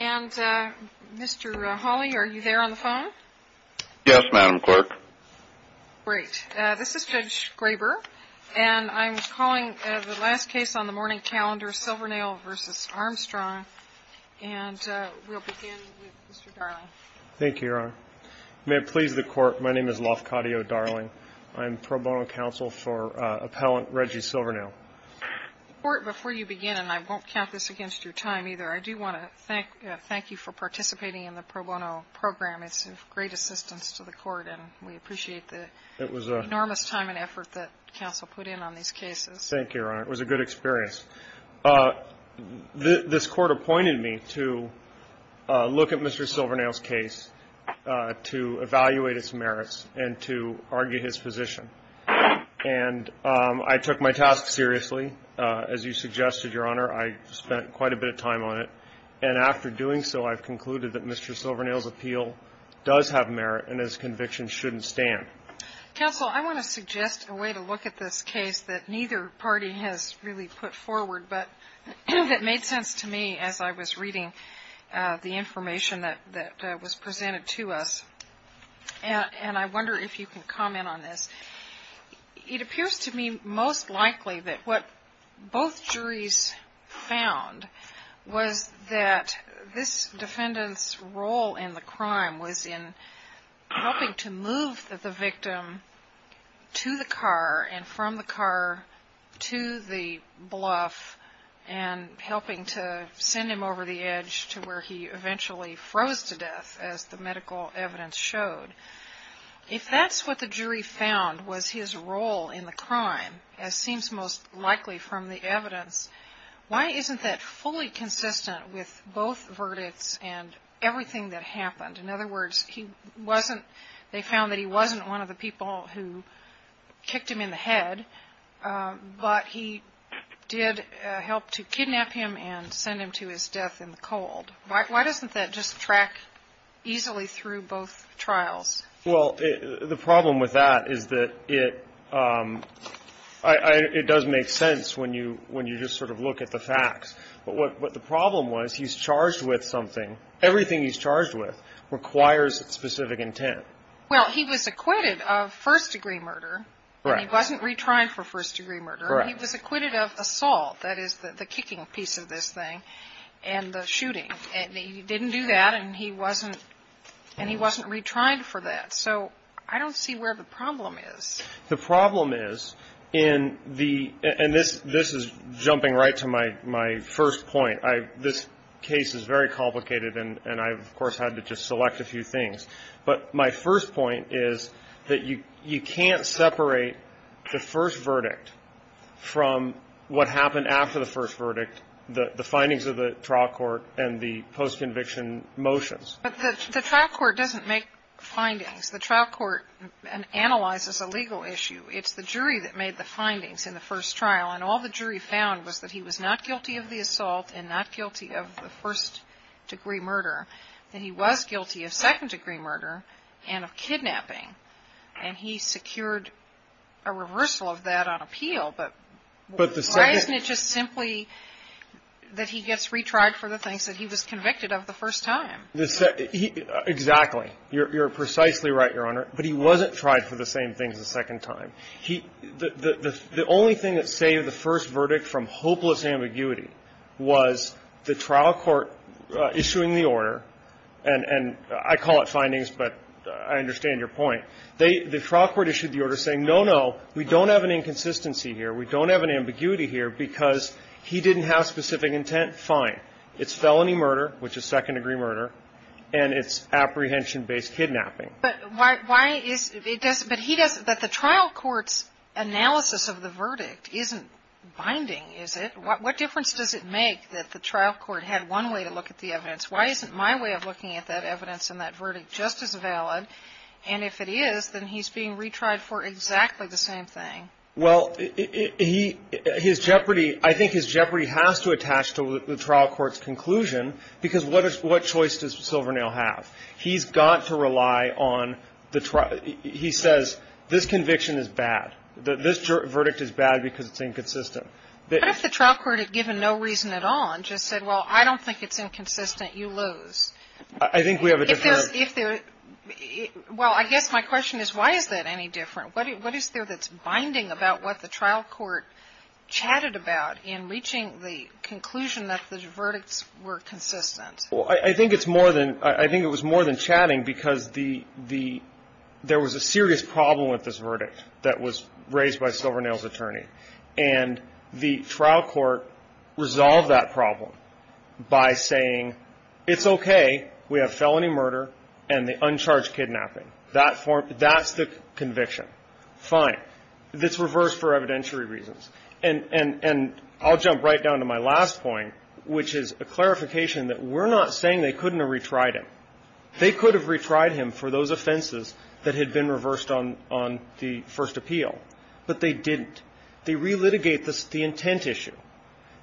and Mr. Hawley, are you there on the phone? Yes, Madam Clerk. Great. This is Judge Graber, and I'm calling the last case on the morning calendar, Silvernail v. Armstrong, and we'll begin with Mr. Darling. Thank you, Your Honor. May it please the Court, my name is Lafcadio Darling. I'm pro bono counsel for Appellant Reggie Silvernail. The Court, before you begin, and I won't count this against your time either, I do want to thank you for participating in the pro bono program. It's of great assistance to the Court, and we appreciate the enormous time and effort that counsel put in on these cases. Thank you, Your Honor. It was a good experience. This Court appointed me to look at Mr. Silvernail's case, to evaluate its merits, and to argue his position. And I took my task seriously. As you suggested, Your Honor, I spent quite a bit of time on it. And after doing so, I've concluded that Mr. Silvernail's appeal does have merit, and his conviction shouldn't stand. Counsel, I want to suggest a way to look at this case that neither party has really put forward, but that made sense to me as I was reading the information that was presented to us. And I wonder if you can comment on this. It appears to me most likely that what both juries found was that this defendant's role in the crime was in helping to move the victim to the car, and from the car to the bluff, and helping to send him over the edge to where he eventually froze to death, as the medical evidence showed. If that's what the jury found was his role in the crime, as seems most likely from the evidence, why isn't that fully consistent with both verdicts and everything that happened? In other words, they found that he wasn't one of the people who kicked him in the head, but he did help to kidnap him and send him to his death in the cold. Why doesn't that just track easily through both trials? Well, the problem with that is that it does make sense when you just sort of look at the facts. But what the problem was, he's charged with something. Everything he's charged with requires specific intent. Well, he was acquitted of first-degree murder. He wasn't retried for first-degree murder. He was acquitted of assault. That is, the kicking piece of this thing, and the shooting. And he didn't do that, and he wasn't retried for that. So I don't see where the problem is. The problem is in the – and this is jumping right to my first point. This case is very complicated, and I, of course, had to just select a few things. But my first point is that you can't separate the first verdict from what happened after the first verdict, the findings of the trial court and the post-conviction motions. But the trial court doesn't make findings. The trial court analyzes a legal issue. It's the jury that made the findings in the first trial. And all the jury found was that he was not guilty of the assault and not guilty of the first-degree murder, that he was guilty of second-degree murder and of kidnapping. And he secured a reversal of that on appeal. But why isn't it just simply that he gets retried for the things that he was convicted of the first time? Exactly. You're precisely right, Your Honor. But he wasn't tried for the same things a second time. The only thing that saved the first verdict from hopeless ambiguity was the trial court issuing the order. And I call it findings, but I understand your point. The trial court issued the order saying, no, no, we don't have an inconsistency here, we don't have an ambiguity here, because he didn't have specific intent, fine. It's felony murder, which is second-degree murder, and it's apprehension-based kidnapping. But why is it that he doesn't – that the trial court's analysis of the verdict isn't binding, is it? What difference does it make that the trial court had one way to look at the evidence? Why isn't my way of looking at that evidence and that verdict just as valid? And if it is, then he's being retried for exactly the same thing. Well, his jeopardy – I think his jeopardy has to attach to the trial court's conclusion, because what choice does Silvernail have? He's got to rely on the – he says, this conviction is bad. This verdict is bad because it's inconsistent. What if the trial court, given no reason at all, just said, well, I don't think it's inconsistent, you lose? I think we have a different – If there's – well, I guess my question is, why is that any different? What is there that's binding about what the trial court chatted about in reaching the conclusion that the verdicts were consistent? Well, I think it's more than – I think it was more than chatting, because the – there was a serious problem with this verdict that was raised by Silvernail's attorney. And the trial court resolved that problem by saying, it's okay. We have felony murder and the uncharged kidnapping. That's the conviction. Fine. It's reversed for evidentiary reasons. And I'll jump right down to my last point, which is a clarification that we're not saying they couldn't have retried him. They could have retried him for those offenses that had been reversed on the first appeal, but they didn't. They relitigate the intent issue.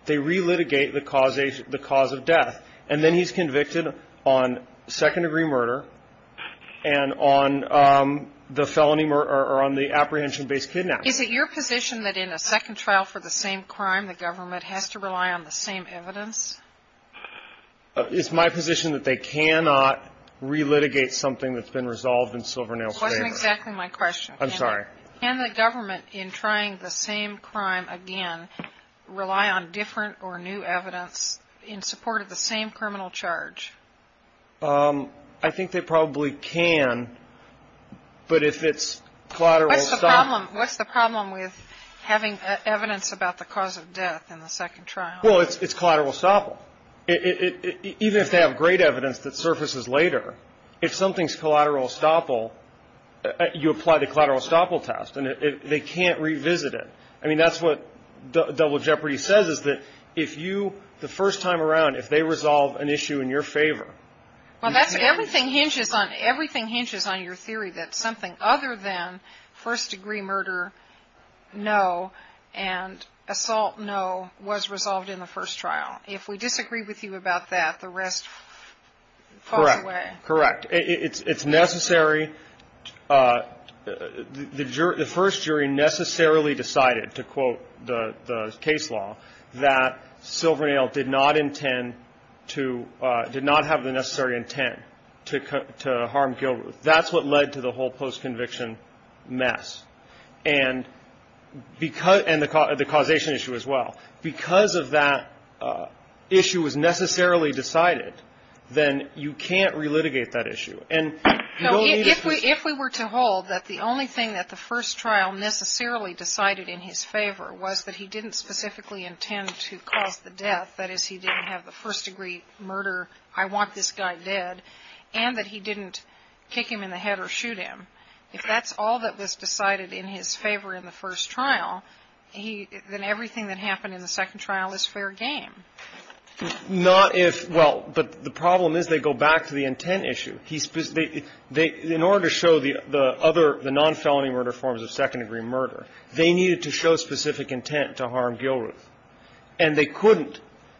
They relitigate the cause of death. And then he's convicted on second-degree murder and on the felony murder or on the apprehension-based kidnapping. Is it your position that in a second trial for the same crime, the government has to rely on the same evidence? It's my position that they cannot relitigate something that's been resolved in Silvernail's favor. That wasn't exactly my question. I'm sorry. Can the government, in trying the same crime again, rely on different or new evidence in support of the same criminal charge? I think they probably can, but if it's collateral estoppel. What's the problem with having evidence about the cause of death in the second trial? Well, it's collateral estoppel. Even if they have great evidence that surfaces later, if something's collateral estoppel, you apply the collateral estoppel test, and they can't revisit it. I mean, that's what Double Jeopardy says is that if you, the first time around, if they resolve an issue in your favor. Well, everything hinges on your theory that something other than first-degree murder, no, and assault, no, was resolved in the first trial. If we disagree with you about that, the rest falls away. Correct. It's necessary. The first jury necessarily decided, to quote the case law, that Silvernail did not have the necessary intent to harm Gilruth. That's what led to the whole post-conviction mess, and the causation issue as well. Because of that issue was necessarily decided, then you can't relitigate that issue. And you don't need to ---- If we were to hold that the only thing that the first trial necessarily decided in his favor was that he didn't specifically intend to cause the death, that is, he didn't have the first-degree murder, I want this guy dead, and that he didn't kick him in the head or shoot him, if that's all that was decided in his favor in the first trial, then everything that happened in the second trial is fair game. Not if ---- well, but the problem is they go back to the intent issue. In order to show the other, the non-felony murder forms of second-degree murder, they needed to show specific intent to harm Gilruth. And they couldn't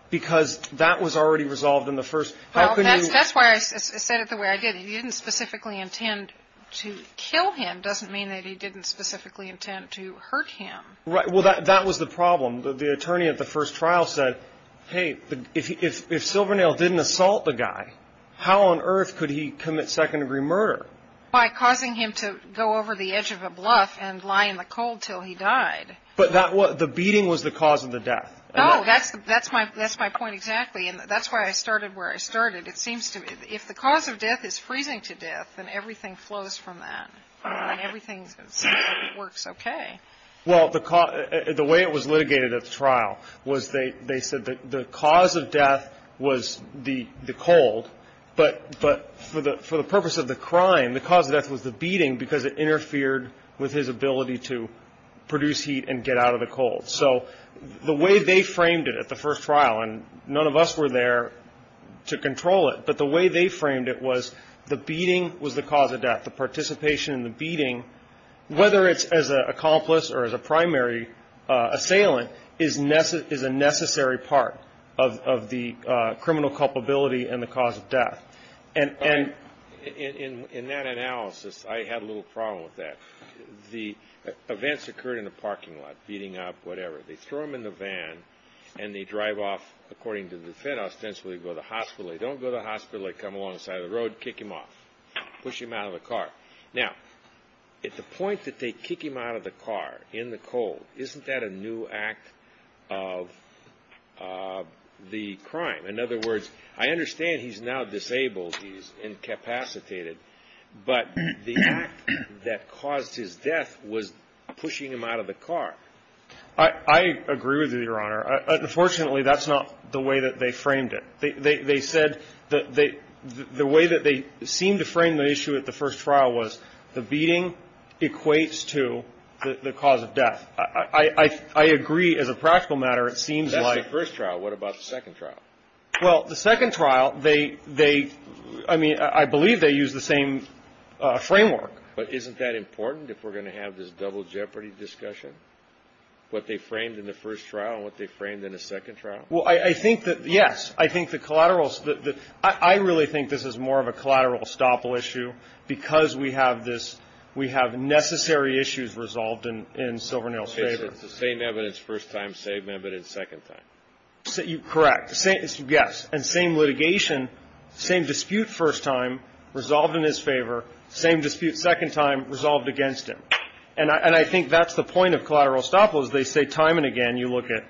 because that was already resolved in the first ---- Well, that's why I said it the way I did. If he didn't specifically intend to kill him doesn't mean that he didn't specifically intend to hurt him. Well, that was the problem. The attorney at the first trial said, hey, if Silvernail didn't assault the guy, how on earth could he commit second-degree murder? By causing him to go over the edge of a bluff and lie in the cold until he died. But the beating was the cause of the death. No, that's my point exactly, and that's why I started where I started. It seems to me if the cause of death is freezing to death, then everything flows from that, and everything works okay. Well, the way it was litigated at the trial was they said the cause of death was the cold, but for the purpose of the crime, the cause of death was the beating because it interfered with his ability to produce heat and get out of the cold. So the way they framed it at the first trial, and none of us were there to control it, but the way they framed it was the beating was the cause of death. The participation in the beating, whether it's as an accomplice or as a primary assailant, is a necessary part of the criminal culpability and the cause of death. And in that analysis, I had a little problem with that. The events occurred in a parking lot, beating up, whatever. They throw him in the van, and they drive off, according to the defense, ostensibly go to the hospital. They don't go to the hospital. They come along the side of the road, kick him off, push him out of the car. Now, at the point that they kick him out of the car in the cold, isn't that a new act of the crime? In other words, I understand he's now disabled, he's incapacitated, but the act that caused his death was pushing him out of the car. I agree with you, Your Honor. Unfortunately, that's not the way that they framed it. They said the way that they seemed to frame the issue at the first trial was the beating equates to the cause of death. I agree, as a practical matter, it seems like. That's the first trial. What about the second trial? Well, the second trial, they – I mean, I believe they used the same framework. But isn't that important if we're going to have this double jeopardy discussion, what they framed in the first trial and what they framed in the second trial? Well, I think that, yes, I think the collateral – I really think this is more of a collateral estoppel issue because we have this – we have necessary issues resolved in Silvernail's favor. Same evidence first time, same evidence second time. Correct. Yes. And same litigation, same dispute first time resolved in his favor, same dispute second time resolved against him. And I think that's the point of collateral estoppel is they say time and again, you look at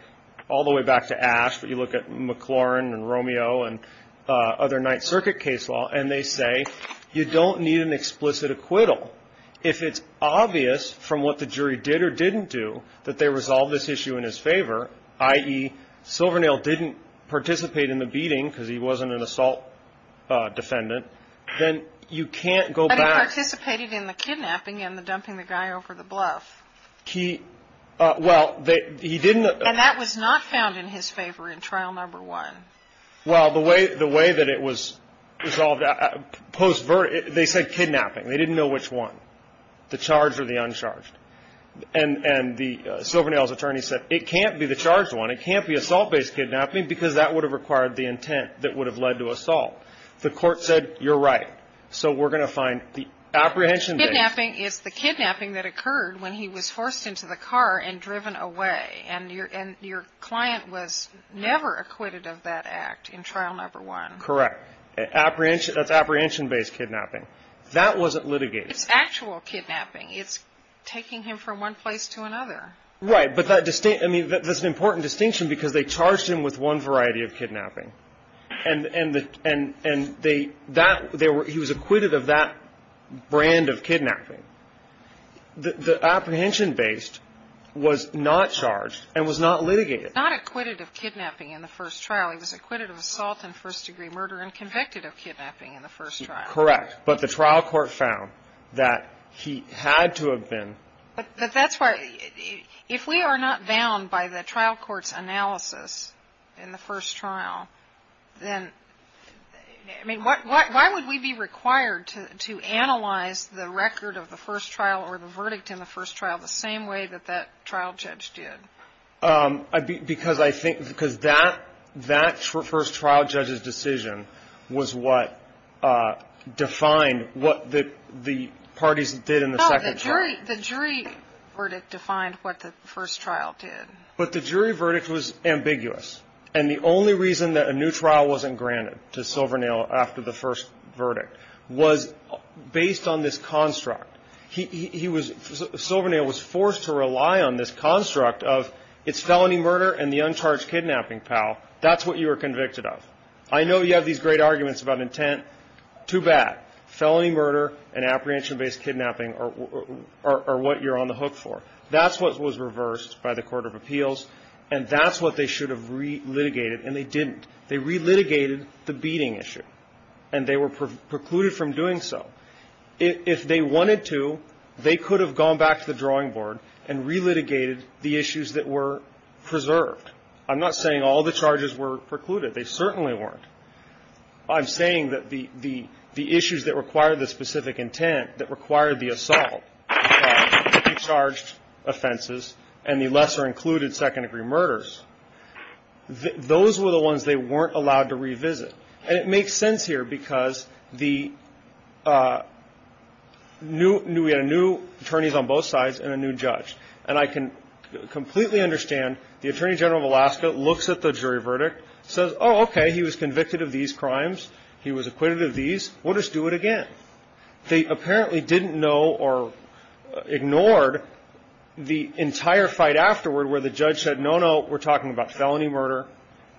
all the way back to Ash, but you look at McLaurin and Romeo and other Ninth Circuit case law, and they say you don't need an explicit acquittal. If it's obvious from what the jury did or didn't do that they resolved this issue in his favor, i.e., Silvernail didn't participate in the beating because he wasn't an assault defendant, then you can't go back. But he participated in the kidnapping and the dumping the guy over the bluff. He – well, he didn't – And that was not found in his favor in trial number one. Well, the way that it was resolved post – they said kidnapping. They didn't know which one, the charged or the uncharged. And the Silvernail's attorney said it can't be the charged one. It can't be assault-based kidnapping because that would have required the intent that would have led to assault. The Court said you're right, so we're going to find the apprehension – Kidnapping is the kidnapping that occurred when he was forced into the car and driven away. And your client was never acquitted of that act in trial number one. Correct. Apprehension – that's apprehension-based kidnapping. That wasn't litigated. It's actual kidnapping. It's taking him from one place to another. Right. But that – I mean, that's an important distinction because they charged him with one variety of kidnapping. And they – that – he was acquitted of that brand of kidnapping. The apprehension-based was not charged and was not litigated. Not acquitted of kidnapping in the first trial. He was acquitted of assault and first-degree murder and convicted of kidnapping in the first trial. Correct. But the trial court found that he had to have been – But that's why – if we are not bound by the trial court's analysis in the first trial, then – I mean, why would we be required to analyze the record of the first trial or the verdict in the first trial the same way that that trial judge did? Because I think – because that first trial judge's decision was what defined what the parties did in the second trial. The jury – the jury verdict defined what the first trial did. But the jury verdict was ambiguous. And the only reason that a new trial wasn't granted to Silvernail after the first verdict was based on this construct. He was – Silvernail was forced to rely on this construct of it's felony murder and the uncharged kidnapping, pal. That's what you were convicted of. I know you have these great arguments about intent. Too bad. Felony murder and apprehension-based kidnapping are what you're on the hook for. That's what was reversed by the court of appeals. And that's what they should have re-litigated, and they didn't. They re-litigated the beating issue. And they were precluded from doing so. If they wanted to, they could have gone back to the drawing board and re-litigated the issues that were preserved. I'm not saying all the charges were precluded. They certainly weren't. I'm saying that the issues that required the specific intent, that required the assault, the charged offenses, and the lesser-included second-degree murders, those were the ones they weren't allowed to revisit. And it makes sense here because the new – we had new attorneys on both sides and a new judge. And I can completely understand the Attorney General of Alaska looks at the jury verdict, says, oh, okay, he was convicted of these crimes, he was acquitted of these, we'll just do it again. They apparently didn't know or ignored the entire fight afterward where the judge said, no, no, we're talking about felony murder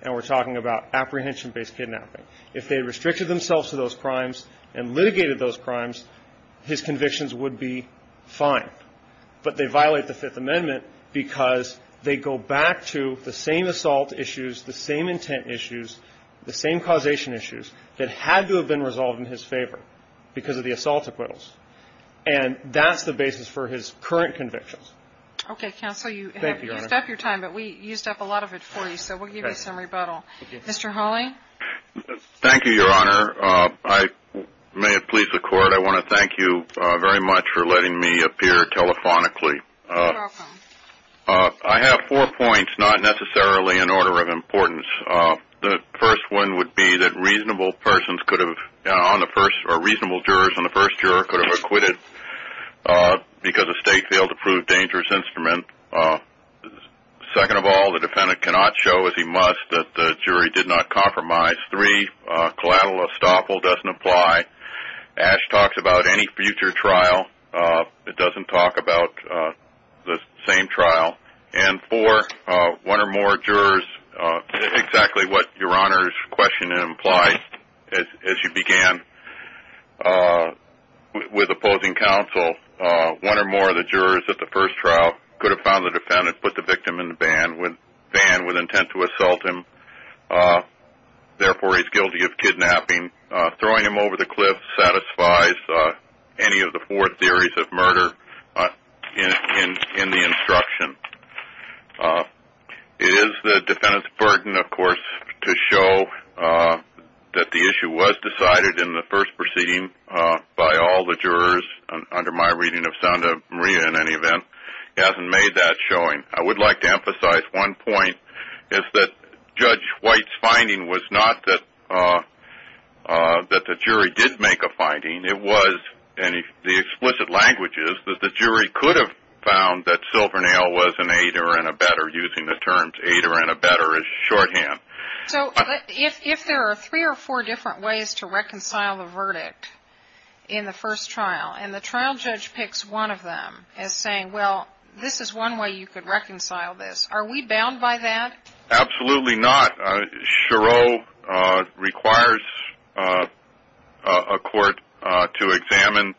and we're talking about apprehension-based kidnapping. If they restricted themselves to those crimes and litigated those crimes, his convictions would be fine. But they violate the Fifth Amendment because they go back to the same assault issues, the same intent issues, the same causation issues that had to have been resolved in his favor because of the assault acquittals. And that's the basis for his current convictions. Okay, Counsel, you have used up your time, but we used up a lot of it for you, so we'll give you some rebuttal. Mr. Hawley? Thank you, Your Honor. I may have pleased the Court. I want to thank you very much for letting me appear telephonically. You're welcome. I have four points, not necessarily in order of importance. The first one would be that reasonable persons could have, or reasonable jurors on the first juror could have acquitted because the state failed to prove dangerous instrument. Second of all, the defendant cannot show, as he must, that the jury did not compromise. Three, collateral estoppel doesn't apply. Ash talks about any future trial. It doesn't talk about the same trial. And four, one or more jurors, exactly what Your Honor's question implies, as you began with opposing counsel, one or more of the jurors at the first trial could have found the defendant put the victim in the van with intent to assault him, therefore he's guilty of kidnapping. Throwing him over the cliff satisfies any of the four theories of murder in the instruction. It is the defendant's burden, of course, to show that the issue was decided in the first proceeding by all the jurors. Under my reading of Sound of Maria, in any event, he hasn't made that showing. I would like to emphasize one point. It's that Judge White's finding was not that the jury did make a finding. It was, in the explicit languages, that the jury could have found that Silvernail was an aider and abetter, using the terms aider and abetter as shorthand. So if there are three or four different ways to reconcile the verdict in the first trial, and the trial judge picks one of them as saying, well, this is one way you could reconcile this, are we bound by that? Absolutely not. Chereau requires a court to examine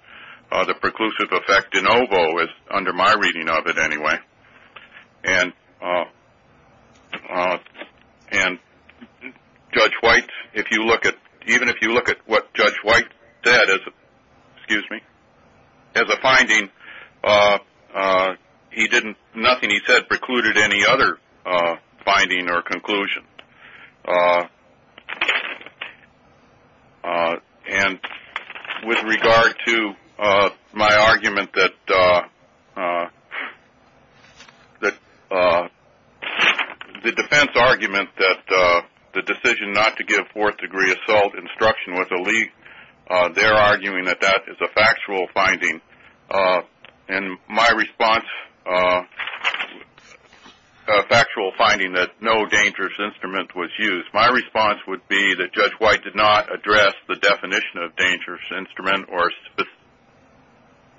the preclusive effect. De Novo is, under my reading of it, anyway. And Judge White, even if you look at what Judge White said as a finding, nothing he said precluded any other finding or conclusion. And with regard to my argument that the defense argument that the decision not to give fourth-degree assault instruction was a leak, they're arguing that that is a factual finding. And my response, factual finding that no dangerous instrument was used, my response would be that Judge White did not address the definition of dangerous instrument or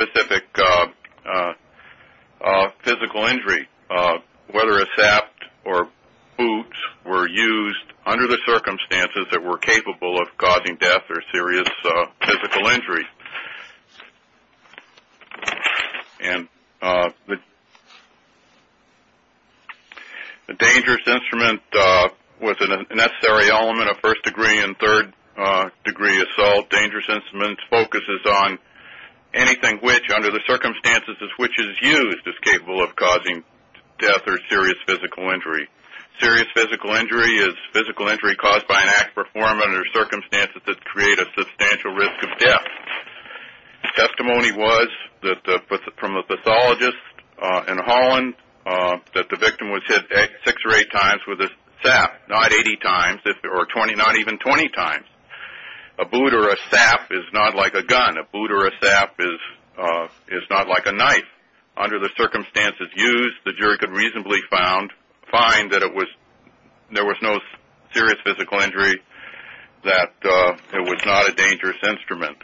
specific physical injury, whether a saft or boots were used under the circumstances that were capable of causing death or serious physical injury. And the dangerous instrument was a necessary element of first-degree and third-degree assault. Dangerous instrument focuses on anything which, under the circumstances as which is used, is capable of causing death or serious physical injury. Serious physical injury is physical injury caused by an act performed under circumstances that create a substantial risk of death. Testimony was from a pathologist in Holland that the victim was hit six or eight times with a saft, not 80 times or 20, not even 20 times. A boot or a saft is not like a gun. A boot or a saft is not like a knife. Under the circumstances used, the jury could reasonably find that there was no serious physical injury, that it was not a dangerous instrument.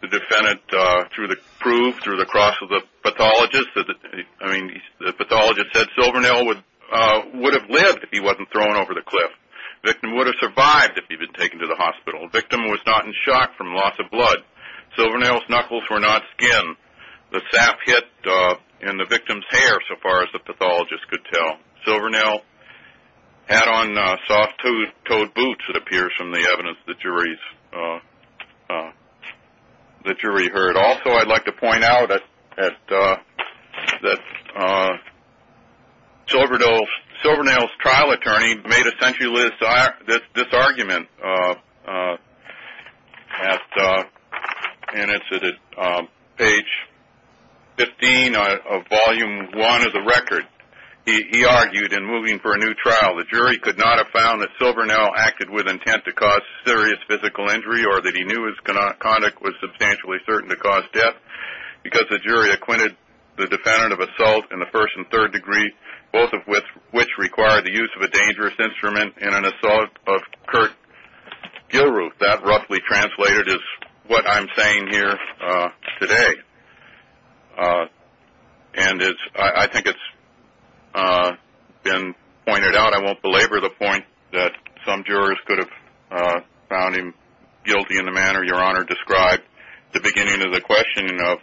The defendant, through the proof, through the cross of the pathologist, I mean the pathologist said Silvernail would have lived if he wasn't thrown over the cliff. The victim would have survived if he'd been taken to the hospital. The victim was not in shock from loss of blood. Silvernail's knuckles were not skin. The saft hit in the victim's hair, so far as the pathologist could tell. Silvernail had on soft-toed boots, it appears, from the evidence the jury heard. Also, I'd like to point out that Silvernail's trial attorney made essentially this argument, and it's at page 15 of volume one of the record. He argued in moving for a new trial, the jury could not have found that Silvernail acted with intent to cause serious physical injury or that he knew his conduct was substantially certain to cause death because the jury acquitted the defendant of assault in the first and third degree, both of which require the use of a dangerous instrument in an assault of Kurt Gilruth. That, roughly translated, is what I'm saying here today. And I think it's been pointed out, and I won't belabor the point that some jurors could have found him guilty in the manner Your Honor described at the beginning of the questioning of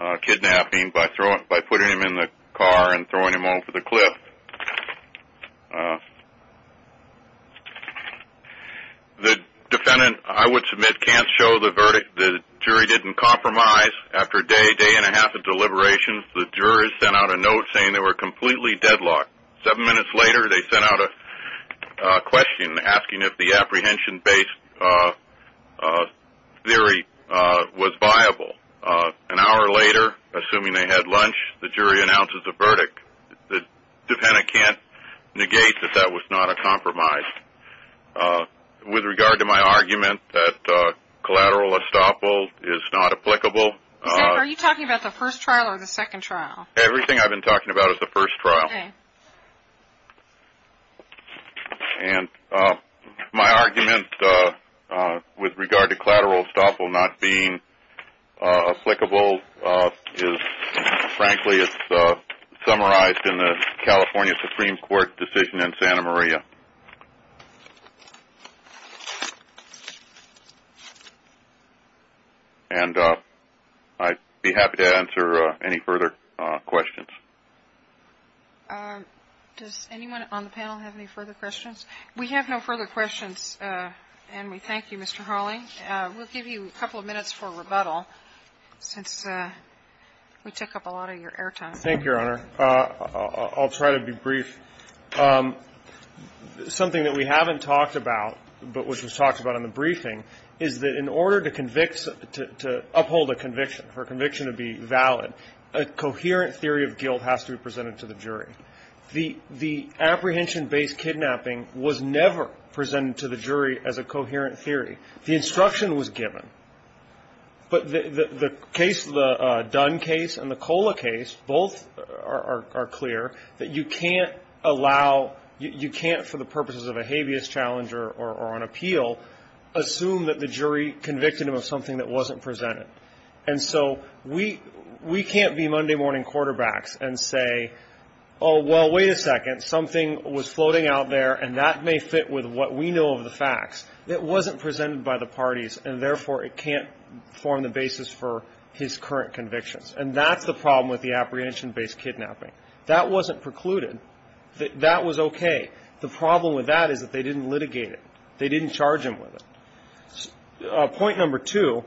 both kidnapping by putting him in the car and throwing him over the cliff. The defendant, I would submit, can't show the verdict. The jury didn't compromise. After a day, day and a half of deliberations, the jurors sent out a note saying they were completely deadlocked. Seven minutes later, they sent out a question asking if the apprehension-based theory was viable. An hour later, assuming they had lunch, the jury announces a verdict. The defendant can't negate that that was not a compromise. With regard to my argument that collateral estoppel is not applicable. Are you talking about the first trial or the second trial? Everything I've been talking about is the first trial. And my argument with regard to collateral estoppel not being applicable is, frankly, it's summarized in the California Supreme Court decision in Santa Maria. And I'd be happy to answer any further questions. Does anyone on the panel have any further questions? We have no further questions, and we thank you, Mr. Hawley. Mr. Hawley, we'll give you a couple of minutes for rebuttal since we took up a lot of your air time. Thank you, Your Honor. I'll try to be brief. Something that we haven't talked about, but which was talked about in the briefing, is that in order to convict, to uphold a conviction, for a conviction to be valid, a coherent theory of guilt has to be presented to the jury. The apprehension-based kidnapping was never presented to the jury as a coherent theory. The instruction was given. But the case, the Dunn case and the Cola case, both are clear that you can't allow, you can't for the purposes of a habeas challenge or an appeal, assume that the jury convicted them of something that wasn't presented. And so we can't be Monday morning quarterbacks and say, oh, well, wait a second, something was floating out there, and that may fit with what we know of the facts. It wasn't presented by the parties, and therefore it can't form the basis for his current convictions. And that's the problem with the apprehension-based kidnapping. That wasn't precluded. That was okay. The problem with that is that they didn't litigate it. They didn't charge him with it. Point number two,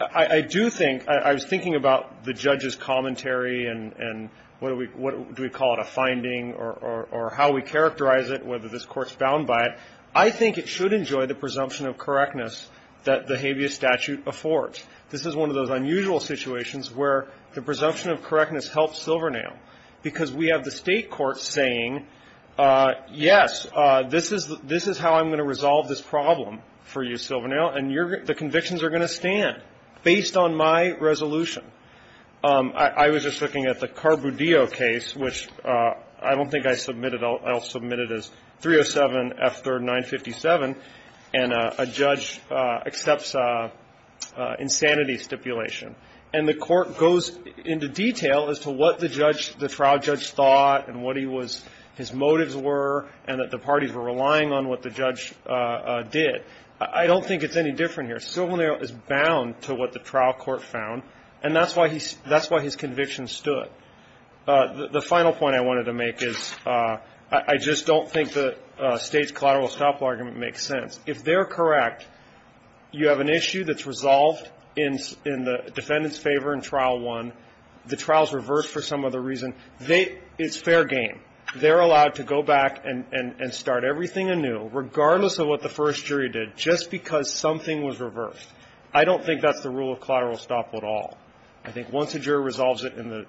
I do think, I was thinking about the judge's commentary and what do we call it, a finding, or how we characterize it, whether this court's bound by it. I think it should enjoy the presumption of correctness that the habeas statute affords. This is one of those unusual situations where the presumption of correctness helps Silvernail because we have the state court saying, yes, this is how I'm going to resolve this problem for you, Silvernail, and the convictions are going to stand based on my resolution. I was just looking at the Carbudio case, which I don't think I submitted. I'll submit it as 307 F3rd 957, and a judge accepts insanity stipulation. And the court goes into detail as to what the judge, the trial judge thought and what he was, his motives were, and that the parties were relying on what the judge did. I don't think it's any different here. Silvernail is bound to what the trial court found. And that's why he's, that's why his convictions stood. The final point I wanted to make is I just don't think the State's collateral estoppel argument makes sense. If they're correct, you have an issue that's resolved in the defendant's favor in Trial 1. The trial's reversed for some other reason. They, it's fair game. They're allowed to go back and start everything anew, regardless of what the first jury did, just because something was reversed. I don't think that's the rule of collateral estoppel at all. I think once a jury resolves it in the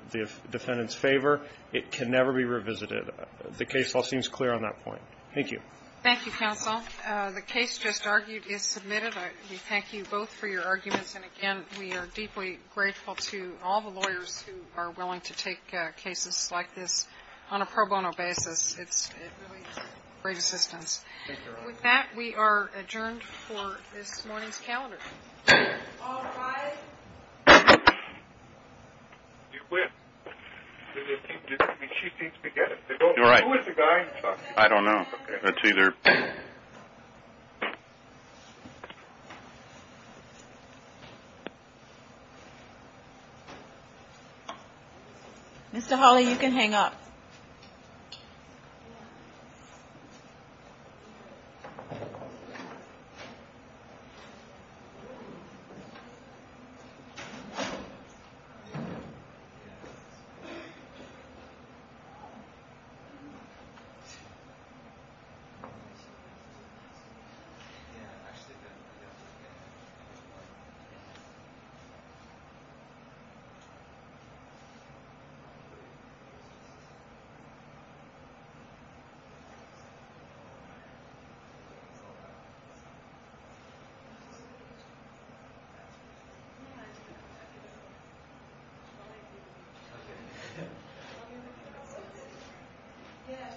defendant's favor, it can never be revisited. The case all seems clear on that point. Thank you. Thank you, counsel. The case just argued is submitted. We thank you both for your arguments. And again, we are deeply grateful to all the lawyers who are willing to take cases It's really great assistance. Thank you, Your Honor. With that, we are adjourned for this morning's calendar. Mr. Hawley, you can hang up. Thank you. Thank you. Thank you. Thank you.